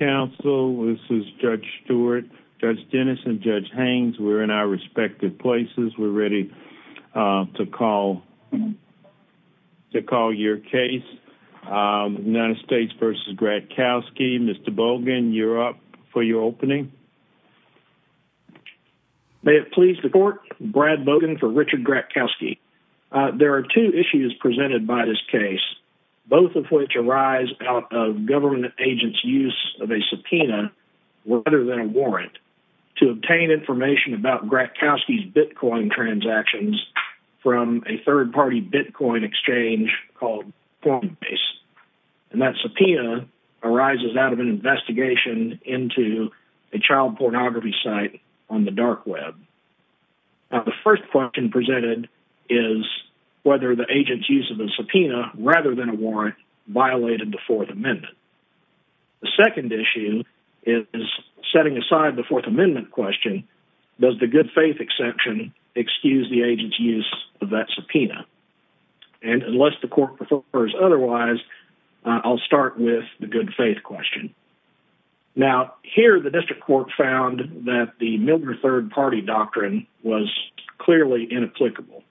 Council this is Judge Stewart, Judge Dennis, and Judge Haines. We're in our respective places. We're ready to call your case. United States v. Gratkowski. Mr. Bogan, you're up for your opening. May it please the court. Brad Bogan for Richard Gratkowski. There are two issues presented by this case, both of which arise out of government agents' use of a subpoena rather than a warrant to obtain information about Gratkowski's bitcoin transactions from a third-party bitcoin exchange called Coinbase. And that subpoena arises out of an investigation into a child pornography site on the dark web. The first question presented is whether the agent's use of the subpoena rather than a warrant violated the Fourth Amendment. The second issue is setting aside the Fourth Amendment question, does the good faith exception excuse the agent's use of that subpoena? And unless the court prefers otherwise, I'll start with the good faith question. Now, here the district court found that the Miller third-party doctrine was clearly inapplicable.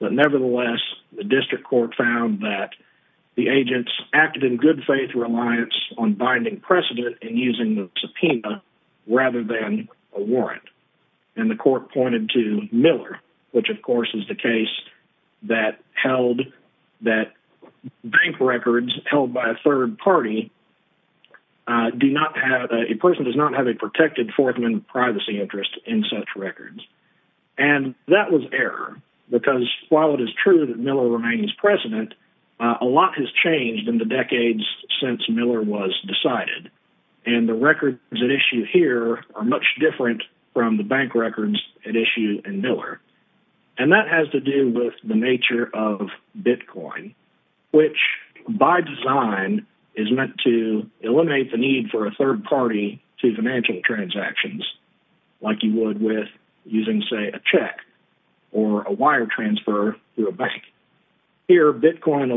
But nevertheless, the district court found that the agents acted in good faith reliance on binding precedent and using the subpoena rather than a warrant. And the court pointed to Miller, which of course is the case that held that bank records held by a third party do not have, a person does not have a protected Fourth Amendment privacy interest in such records. And that was error, because while it is true that Miller remains president, a lot has changed in the decades since Miller was decided. And the records at issue here are much different from the bank records at issue in Miller. And that has to do with the nature of Bitcoin, which by design is meant to eliminate the need for a third party to financial transactions, like you would with using, say, a check or a wire transfer through a bank. Here, of Bitcoin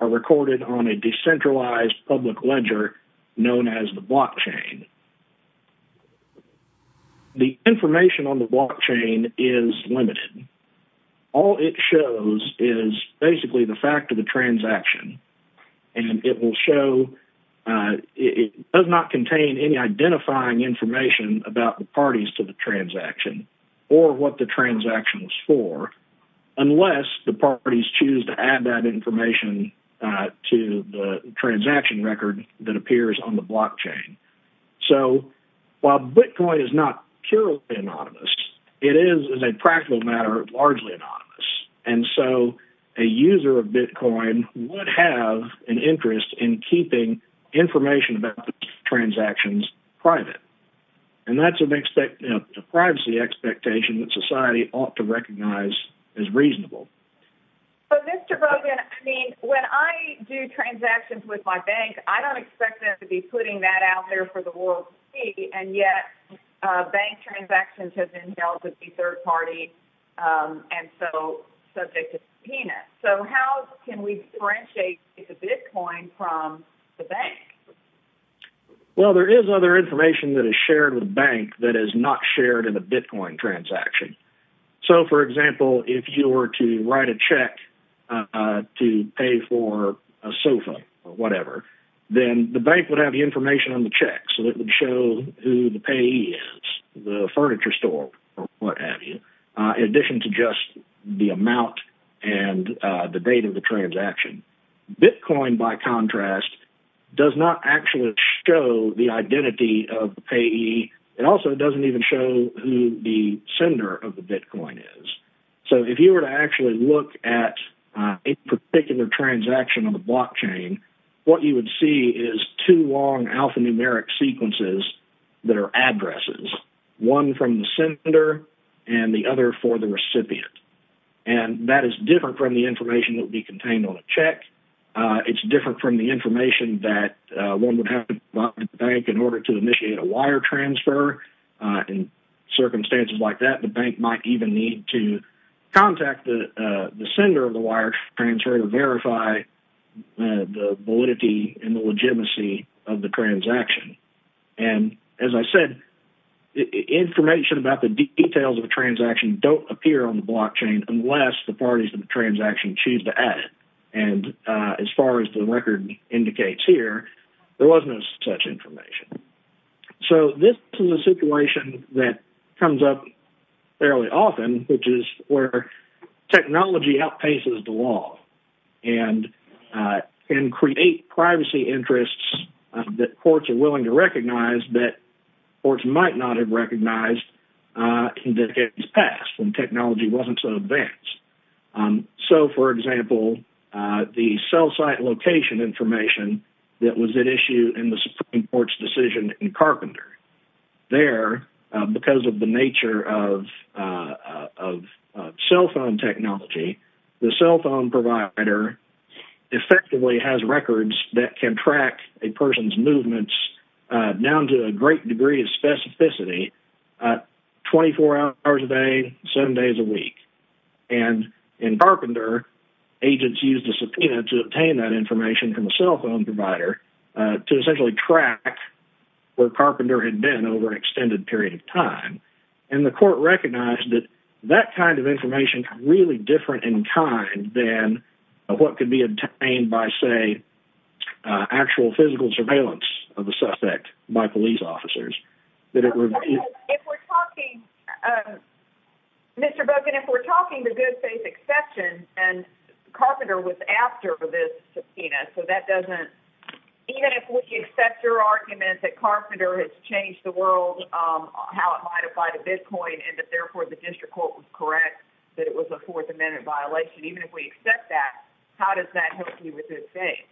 are recorded on a decentralized public ledger known as the blockchain. The information on the blockchain is limited. All it shows is basically the fact of the transaction. And it will show, it does not contain any identifying information about the parties to the transaction or what the transaction was for, unless the parties choose to add that information to the transaction record that appears on the blockchain. So while Bitcoin is not purely anonymous, it is, as a practical matter, largely anonymous. And so a user of Bitcoin would have an interest in keeping information about the transactions private. And that's a privacy expectation that society ought to recognize as reasonable. So, Mr. Bogan, I mean, when I do transactions with my bank, I don't expect them to be putting that out there for the world to see. And yet, bank transactions have been held to be third party, and so subject to subpoenas. So how can we differentiate the Bitcoin from the bank? Well, there is other information that is shared with a bank that is not shared in a Bitcoin transaction. So, for example, if you were to write a check to pay for a sofa or whatever, then the bank would have the information on the check. So it would show who the payee is, the furniture store, or what have you, in addition to just the amount and the date of the transaction. Bitcoin, by contrast, does not actually show the identity of the payee. It also doesn't even show who the sender of the Bitcoin is. So if you were to actually look at a particular transaction on the blockchain, what you would see is two long alphanumeric sequences that are addresses, one from the sender and the other for the recipient. And that is different from the information that would be contained on a check. It's different from the information that one would have to provide the bank in order to initiate a wire transfer. In circumstances like that, the bank might even need to contact the sender of the wire transfer to verify the validity and the legitimacy of the transaction. So this is a situation that comes up fairly often, which is where technology outpaces the law and can create privacy interests that courts are willing to recognize that courts might not have recognized in decades past when technology wasn't so advanced. So, for example, the cell site location information that was at issue in the Supreme Court's decision in Carpenter. There, because of the nature of cell phone technology, the cell phone provider effectively has records that can track a person's movements down to a great degree of specificity 24 hours a day, seven days a week. And in Carpenter, agents used a subpoena to obtain that information from the cell phone provider to essentially track where Carpenter had been over an extended period of time. And the court recognized that that kind of information is really different in kind than what could be obtained by, say, actual physical surveillance of a suspect by police officers. Mr. Boken, if we're talking the good faith exception, and Carpenter was after this subpoena, so that doesn't, even if we accept your argument that Carpenter has changed the world, how it might apply to Bitcoin, and that therefore the district court was correct, that it was a Fourth Amendment violation. Even if we accept that, how does that help you with good faith?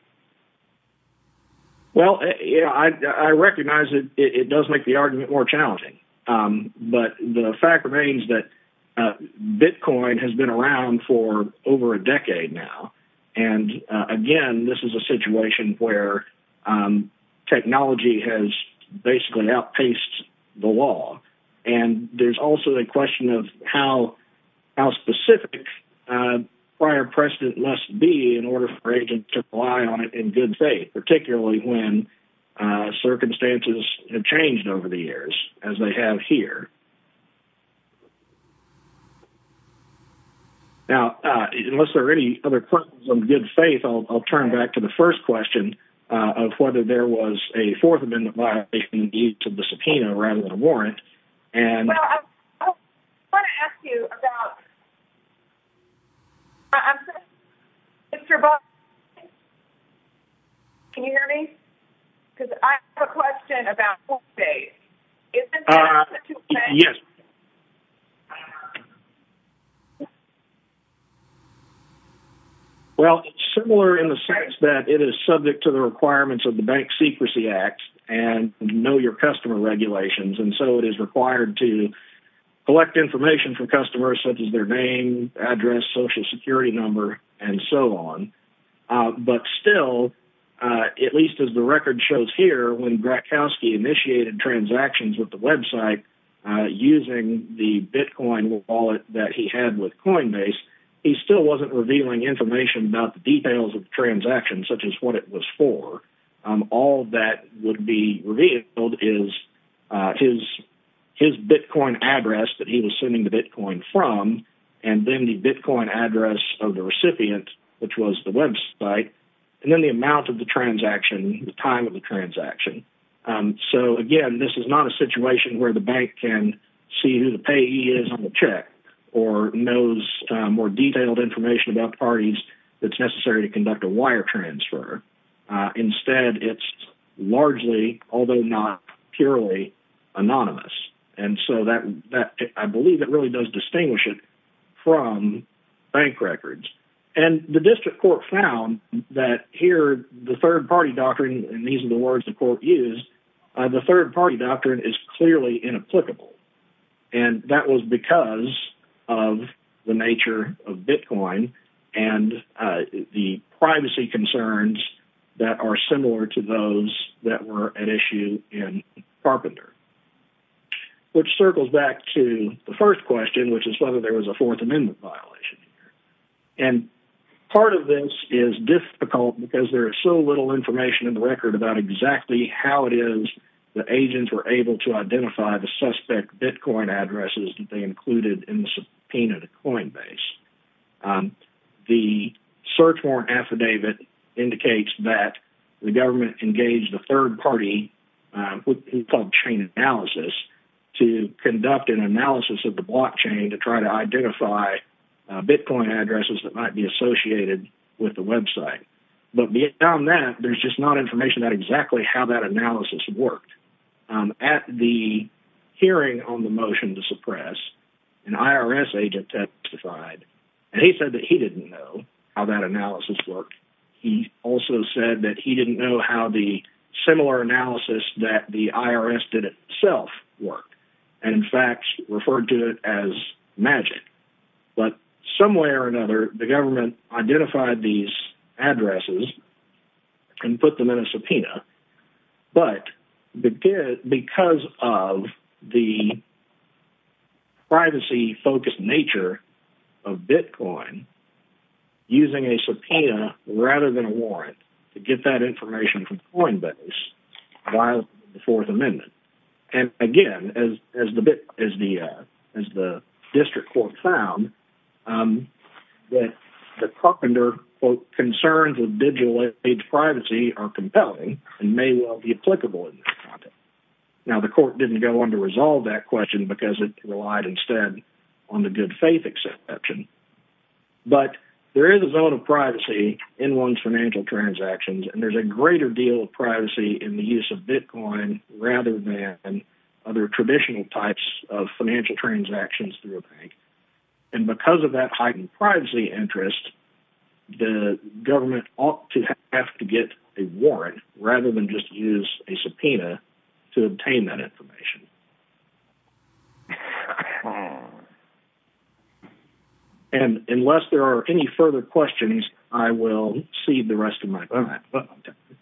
Well, I recognize that it does make the argument more challenging. But the fact remains that Bitcoin has been around for over a decade now. And again, this is a situation where technology has basically outpaced the law. And there's also a question of how specific prior precedent must be in order for agents to rely on it in good faith, particularly when circumstances have changed over the years, as they have here. Now, unless there are any other questions on good faith, I'll turn back to the first question of whether there was a Fourth Amendment violation due to the subpoena rather than a warrant. Well, I want to ask you about, Mr. Boken, can you hear me? Because I have a question about good faith. Yes. Well, it's similar in the sense that it is subject to the requirements of the Bank Secrecy Act, and know your customer regulations. And so it is required to collect information from customers, such as their name, address, social security number, and so on. But still, at least as the record shows here, when Grakowski initiated transactions with the website using the Bitcoin wallet that he had with Coinbase, he still wasn't revealing information about the details of the transaction, such as what it was for. All that would be revealed is his Bitcoin address that he was sending the Bitcoin from, and then the Bitcoin address of the recipient, which was the website, and then the amount of the transaction, the time of the transaction. So again, this is not a situation where the bank can see who the payee is on the check or knows more detailed information about the parties that's necessary to conduct a wire transfer. Instead, it's largely, although not purely, anonymous. And so I believe it really does distinguish it from bank records. And the district court found that here, the third-party doctrine, and these are the words the court used, the third-party doctrine is clearly inapplicable. And that was because of the nature of Bitcoin and the privacy concerns that are similar to those that were at issue in Carpenter. Which circles back to the first question, which is whether there was a Fourth Amendment violation. And part of this is difficult because there is so little information in the record about exactly how it is that agents were able to identify the suspect Bitcoin addresses that they included in the subpoena to Coinbase. The search warrant affidavit indicates that the government engaged the third party, what we call chain analysis, to conduct an analysis of the blockchain to try to identify Bitcoin addresses that might be associated with the website. But beyond that, there's just not information about exactly how that analysis worked. At the hearing on the motion to suppress, an IRS agent testified. And he said that he didn't know how that analysis worked. He also said that he didn't know how the similar analysis that the IRS did itself worked, and in fact, referred to it as magic. But some way or another, the government identified these addresses and put them in a subpoena. But because of the privacy-focused nature of Bitcoin, using a subpoena rather than a warrant to get that information from Coinbase violates the Fourth Amendment. And again, as the district court found, that the carpenter, quote, concerns with digital age privacy are compelling and may well be applicable in this context. Now, the court didn't go on to resolve that question because it relied instead on the good faith exception. But there is a zone of privacy in one's financial transactions, and there's a greater deal of privacy in the use of Bitcoin rather than other traditional types of financial transactions through a bank. And because of that heightened privacy interest, the government ought to have to get a warrant rather than just use a subpoena to obtain that information. And unless there are any further questions, I will cede the rest of my time.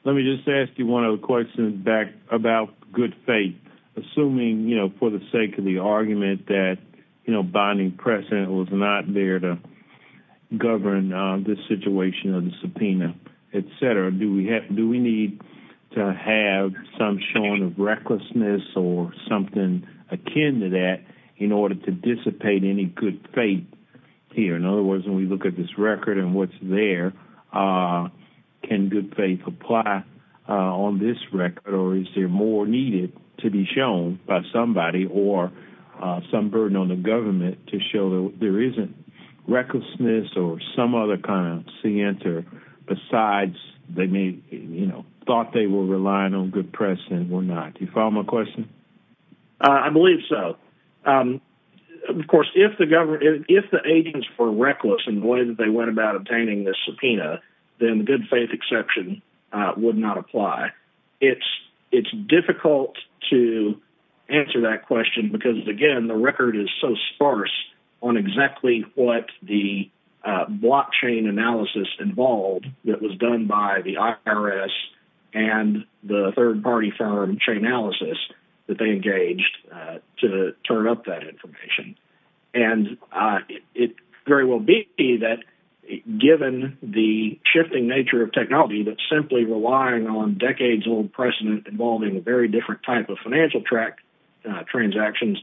Let me just ask you one other question back about good faith. Assuming, you know, for the sake of the argument that, you know, binding precedent was not there to govern this situation of the subpoena, etc., do we need to have some showing of recklessness or something akin to that in order to dissipate any good faith here? In other words, when we look at this record and what's there, can good faith apply on this record, or is there more needed to be shown by somebody or some burden on the government to show that there isn't recklessness or some other kind of center besides they may, you know, thought they were relying on good precedent or not? Do you follow my question? I believe so. Of course, if the government, if the agents were reckless in the way that they went about obtaining this subpoena, then good faith exception would not apply. It's difficult to answer that question because, again, the record is so sparse on exactly what the blockchain analysis involved that was done by the IRS and the third-party firm Chainalysis that they engaged to turn up that information. And it very well be that, given the shifting nature of technology that's simply relying on decades-old precedent involving a very different type of financial transactions,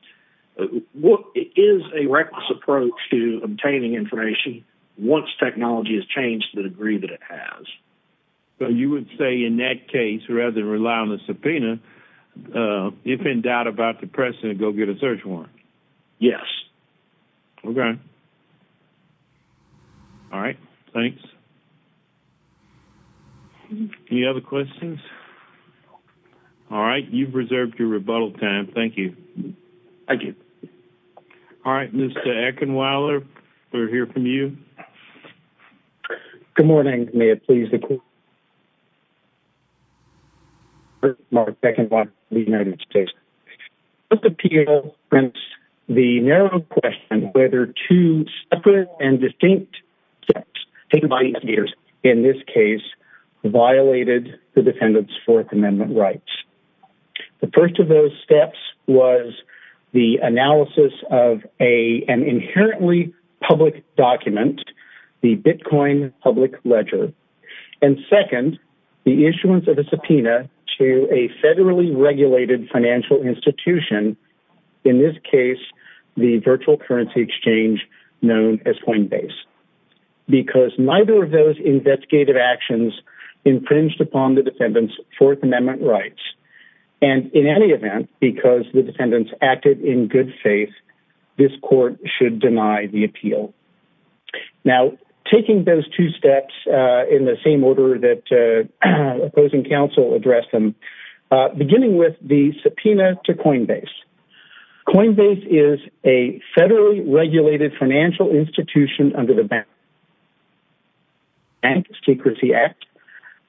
what is a reckless approach to obtaining information once technology has changed to the degree that it has? So you would say in that case, rather than rely on the subpoena, if in doubt about the precedent, go get a search warrant? Yes. Okay. All right. Thanks. Any other questions? All right. You've reserved your rebuttal time. Thank you. Thank you. All right. Mr. Eckenweiler, we'll hear from you. Good morning. May it please the Court? First, Mark Eckenweiler of the United States. The appeal prints the narrow question whether two separate and distinct steps taken by investigators in this case violated the defendant's Fourth Amendment rights. The first of those steps was the analysis of an inherently public document the Bitcoin public ledger. And second, the issuance of a subpoena to a federally regulated financial institution, in this case, the virtual currency exchange known as Coinbase. Because neither of those investigative actions infringed upon the defendant's Fourth Amendment rights. And in any event, because the defendants acted in good faith, this Court should deny the appeal. Now, taking those two steps in the same order that opposing counsel addressed them, beginning with the subpoena to Coinbase. Coinbase is a federally regulated financial institution under the Bank Secrecy Act.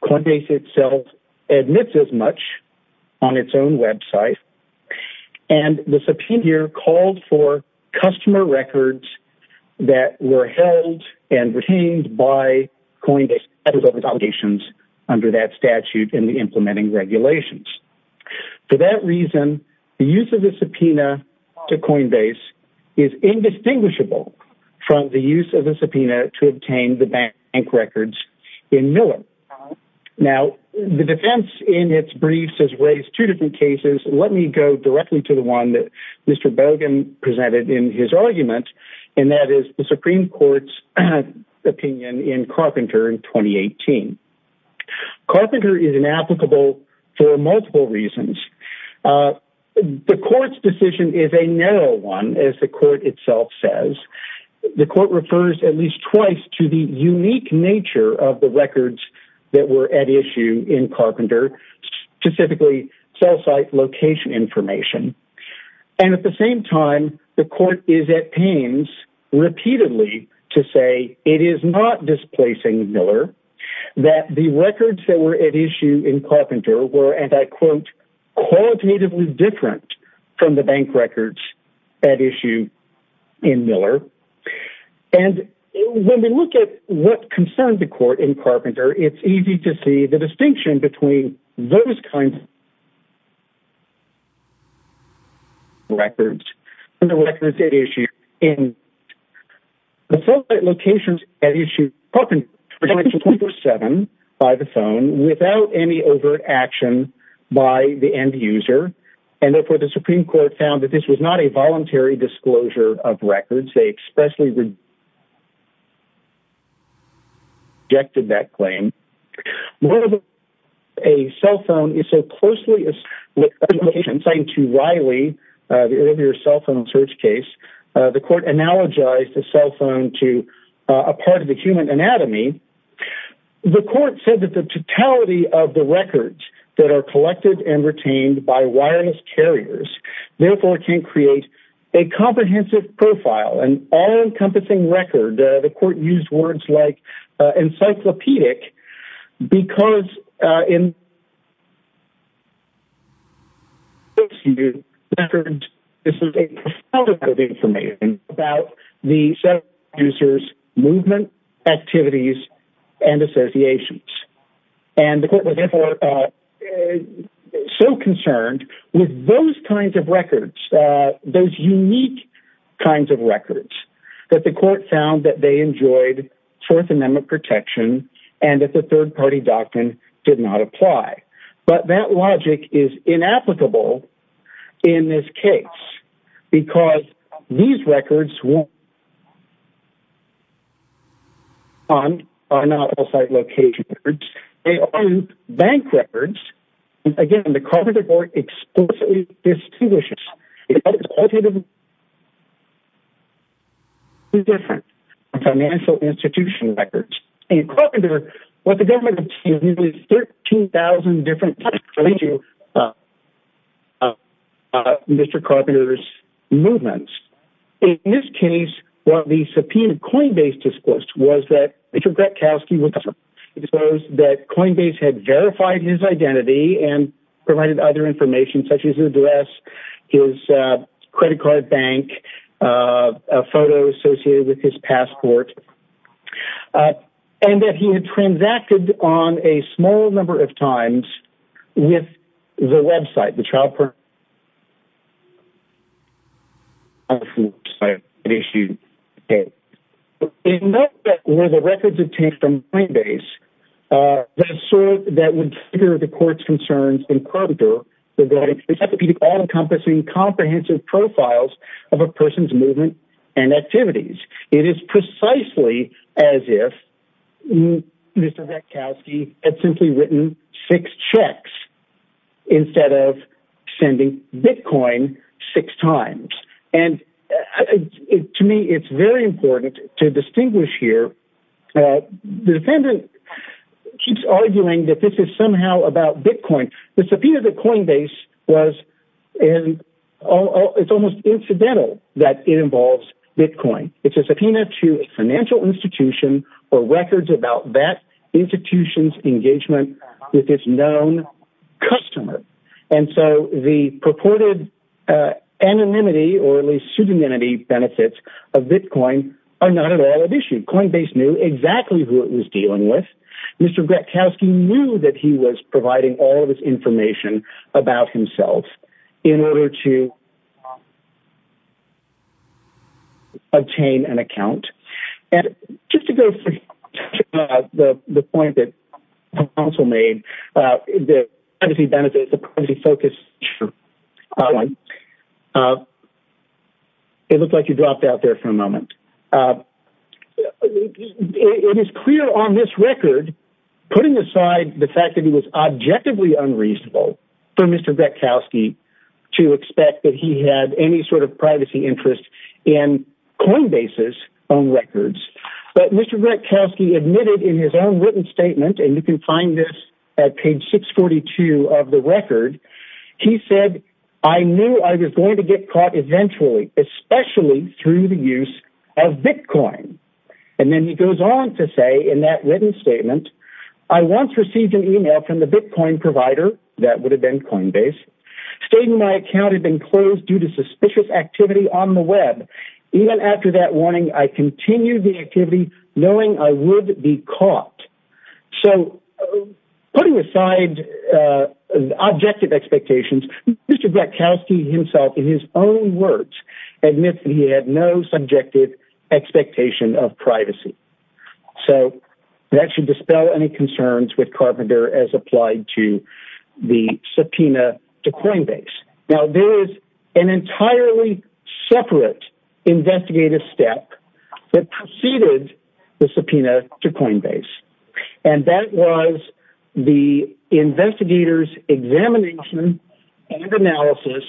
Coinbase itself admits as much on its own website. And the subpoena called for customer records that were held and retained by Coinbase under that statute in the implementing regulations. For that reason, the use of the subpoena to Coinbase is indistinguishable from the use of the subpoena to obtain the bank records in Miller. Now, the defense in its briefs has raised two different cases. Let me go directly to the one Mr. Bogan presented in his argument, and that is the Supreme Court's opinion in Carpenter in 2018. Carpenter is inapplicable for multiple reasons. The Court's decision is a narrow one, as the Court itself says. The Court refers at least twice to the unique nature of the records that were at issue in Carpenter, specifically cell site location information. And at the same time, the Court is at pains repeatedly to say it is not displacing Miller, that the records that were at issue in Carpenter were, and I quote, qualitatively different from the bank records at issue in Miller. And when we look at what in Carpenter, it's easy to see the distinction between those kinds of records and the records at issue in Carpenter. The cell site locations at issue in Carpenter were distributed 24-7 by the phone without any overt action by the end user. And therefore, the Supreme Court found that this was not a voluntary disclosure of records. They expressly rejected that claim. A cell phone is so closely assigned to Riley, the earlier cell phone search case. The Court analogized the cell phone to a part of the human anatomy. The Court said that the totality of the records that are collected and retained by wireless carriers, therefore, can create a comprehensive profile, an all-encompassing record. The Court used words like encyclopedic, because in the records, this is a profound amount of information about the user's movement, activities, and associations. And the Court was, therefore, so concerned with those kinds of records, those unique kinds of records, that the Court found that they enjoyed Fourth Amendment protection and that the third-party doctrine did not apply. But that logic is inapplicable in this case, because these records are not all site location records. They aren't bank records. Again, the Carpenter Court explicitly distinguishes different financial institution records. In Carpenter, what the government obtained is 13,000 different types of Mr. Carpenter's movements. In this case, what the subpoenaed Coinbase disclosed was that Coinbase had verified his identity and provided other information, such as his address, his credit card bank, a photo associated with his passport, and that he had transacted on a small number of times with the website, the child-parenthood website that issued the case. In that respect, were the records obtained from Coinbase that would figure the Court's concerns in Carpenter regarding encyclopedic all-encompassing, comprehensive profiles of a person's movement and activities? It is precisely as if Mr. Ratkowski had simply written six checks instead of sending Bitcoin six times. To me, it's very important to distinguish here. The defendant keeps arguing that this is somehow about Bitcoin. The subpoena to Coinbase was almost incidental that it involves Bitcoin. It's a subpoena to a financial institution or records about that institution's engagement with its known customer. The purported anonymity or at least pseudonymity benefits of Bitcoin are not at all an issue. Coinbase knew exactly who it was dealing with. Mr. Ratkowski knew that he was providing all the information. It is clear on this record, putting aside the fact that he was objectively unreasonable for Mr. Ratkowski to expect that he had any sort of privacy interest in Coinbase's records. But Mr. Ratkowski admitted in his own written statement, and you can find this at page 642 of the record, he said, I knew I was going to get caught eventually, especially through the use of Bitcoin. And then he goes on to say in that written statement, I once received an email from the Bitcoin provider, that would have been Coinbase, stating my account had been closed due to suspicious activity on the web. Even after that warning, I continued the activity knowing I would be caught. So putting aside objective expectations, Mr. Ratkowski himself in his own words, admits that he had no subjective expectation of privacy. So that should dispel any concerns with Carpenter as applied to the subpoena to Coinbase. Now, there is an entirely separate investigative step that preceded the subpoena to Coinbase. And that was the investigators examination and analysis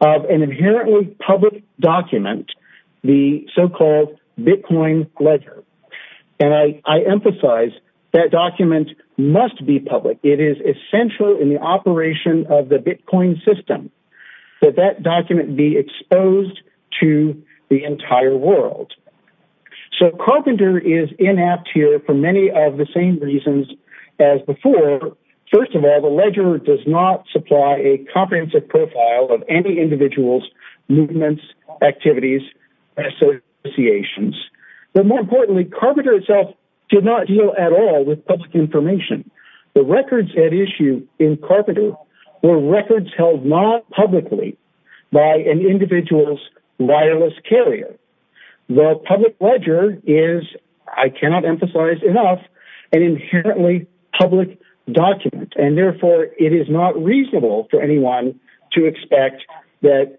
of an inherently public document, the so-called Bitcoin ledger. And I emphasize that document must be public. It is essential in the operation of the Bitcoin system that that document be exposed to the entire world. So Carpenter is inept here for many of the same reasons as before. First of all, the ledger does not supply a comprehensive profile of any individual's movements, activities, associations. But more importantly, Carpenter itself did not deal at all with public information. The records at issue in Carpenter were records held not publicly by an individual's wireless carrier. The public ledger is, I cannot emphasize enough, an inherently public document. And therefore, it is not reasonable for anyone to expect that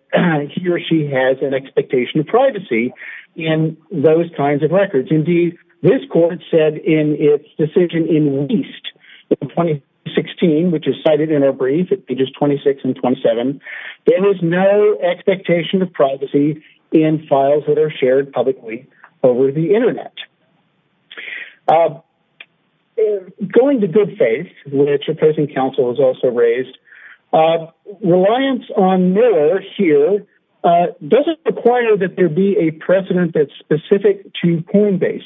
he or an expectation of privacy in those kinds of records. Indeed, this court said in its decision in least in 2016, which is cited in our brief at pages 26 and 27, there is no expectation of privacy in files that are shared publicly over the internet. Going to good faith, which opposing counsel has also raised, reliance on Miller here doesn't require that there be a precedent that's specific to Coinbase.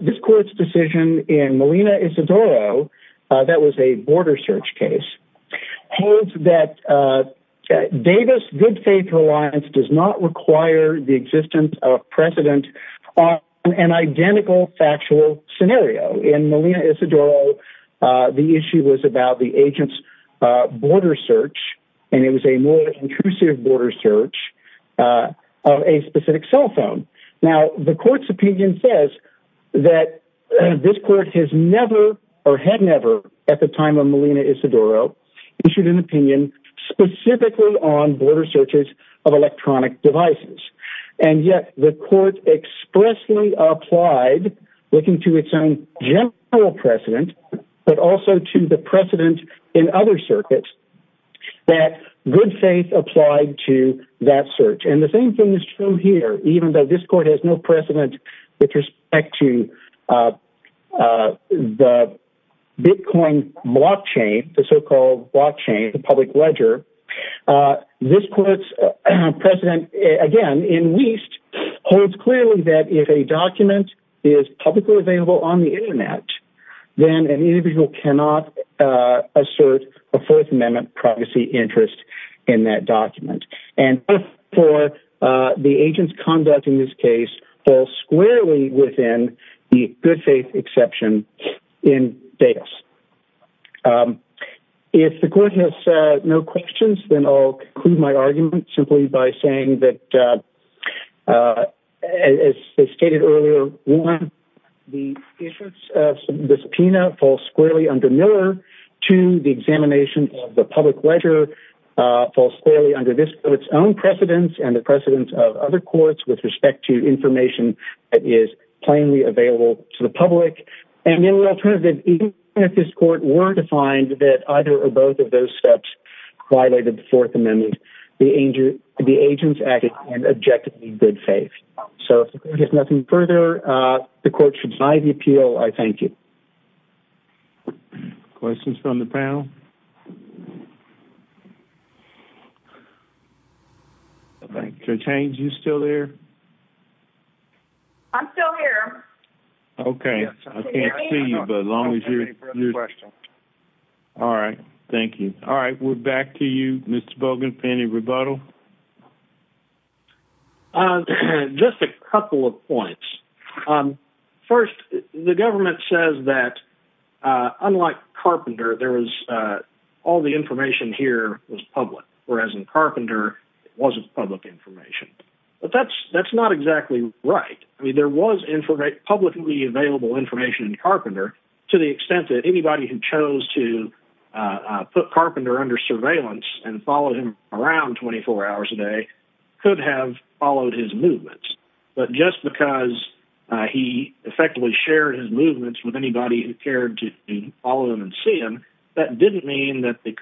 This court's decision in Molina Isidoro, that was a border search case, holds that Davis good faith reliance does not require the existence of precedent on an identical factual scenario. In Molina Isidoro, the issue was about the agent's border search, and it was a more intrusive border search of a specific cell phone. Now, the court's opinion says that this court has never or had never at the time of Molina Isidoro issued an opinion specifically on border searches of electronic devices. And yet the court expressly applied, looking to its own general precedent, but also to the precedent in other circuits, that good faith applied to that search. And the same thing is true here, even though this court has no precedent with respect to the Bitcoin blockchain, the so-called blockchain, the public ledger. This court's precedent, again, in Weist, holds clearly that if a document is publicly available on the internet, then an individual cannot assert a Fourth Amendment privacy interest in that document. And for the agent's conduct in this case, falls squarely within the good faith exception in Davis. If the court has no questions, then I'll conclude my argument simply by saying that, as stated earlier, one, the issuance of the subpoena falls squarely under Miller, two, the examination of the public ledger falls squarely under this court's own precedents and the precedents of other courts with respect to information that is plainly available to the public. And then the alternative, even if this court were to find that either or both of those steps violated the Fourth Amendment, the agents acted in objectively good faith. So if there's nothing further, the court should deny the appeal. I thank you. Questions from the panel? Judge Haynes, you still there? I'm still here. Okay. I can't see you, but as long as you're... All right. Thank you. All right. We're back to you, Mr. Bogan, pending rebuttal. Just a couple of points. First, the government says that, unlike Carpenter, there was... All the information here was public, whereas in Carpenter, it wasn't public information. But that's not exactly right. I mean, there was publicly available information in Carpenter to the extent that anybody who chose to put Carpenter under surveillance and followed him around 24 hours a day could have followed his movements. But just because he effectively shared his movements with anybody who cared to follow him and see him, that didn't mean that the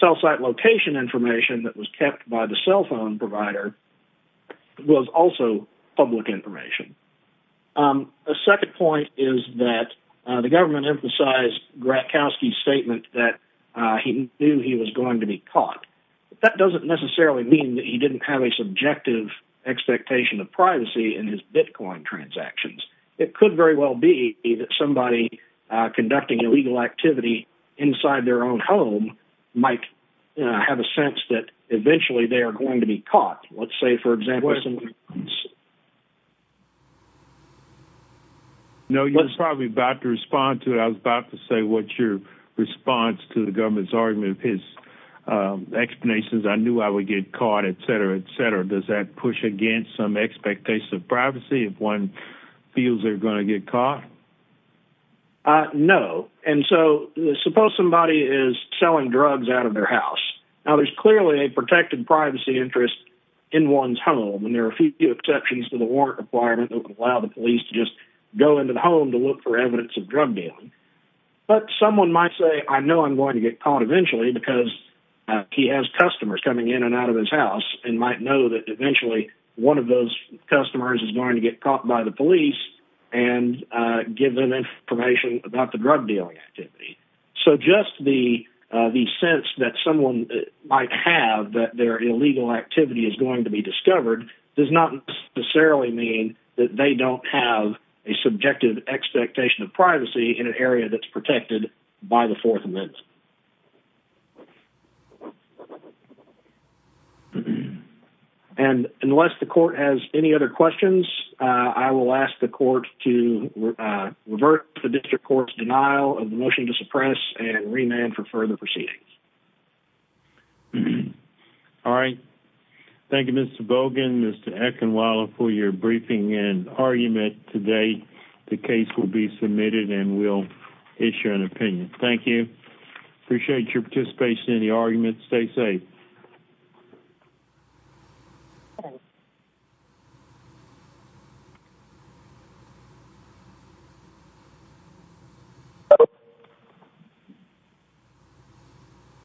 cell site location information that was kept by the cell phone provider was also public information. A second point is that the government emphasized Gratkowski's statement that he knew he was going to be caught. That doesn't necessarily mean that he didn't have a subjective expectation of privacy in his Bitcoin transactions. It could very well be that somebody conducting illegal activity inside their own home might have a sense that eventually they are going to be caught. Let's say, for example... No, you're probably about to respond to it. I was about to say what your response to the government's argument, his explanations, I knew I would get caught, et cetera, et cetera. Does that push against some expectation of privacy if one feels they're going to get caught? No. And so suppose somebody is selling drugs out of their house. Now, there's clearly a protected privacy interest in one's home, and there are a few exceptions to the warrant requirement that just go into the home to look for evidence of drug dealing. But someone might say, I know I'm going to get caught eventually because he has customers coming in and out of his house and might know that eventually one of those customers is going to get caught by the police and give them information about the drug dealing activity. So just the sense that someone might have that their illegal activity is going to be discovered does not necessarily mean that they don't have a subjective expectation of privacy in an area that's protected by the Fourth Amendment. And unless the court has any other questions, I will ask the court to revert to the district court's denial of the motion to suppress and remand for further proceedings. All right. Thank you, Mr. Bogan, Mr. Eckenweller, for your briefing and argument today. The case will be submitted and we'll issue an opinion. Thank you. Appreciate your participation in the argument. Stay safe. Thank you.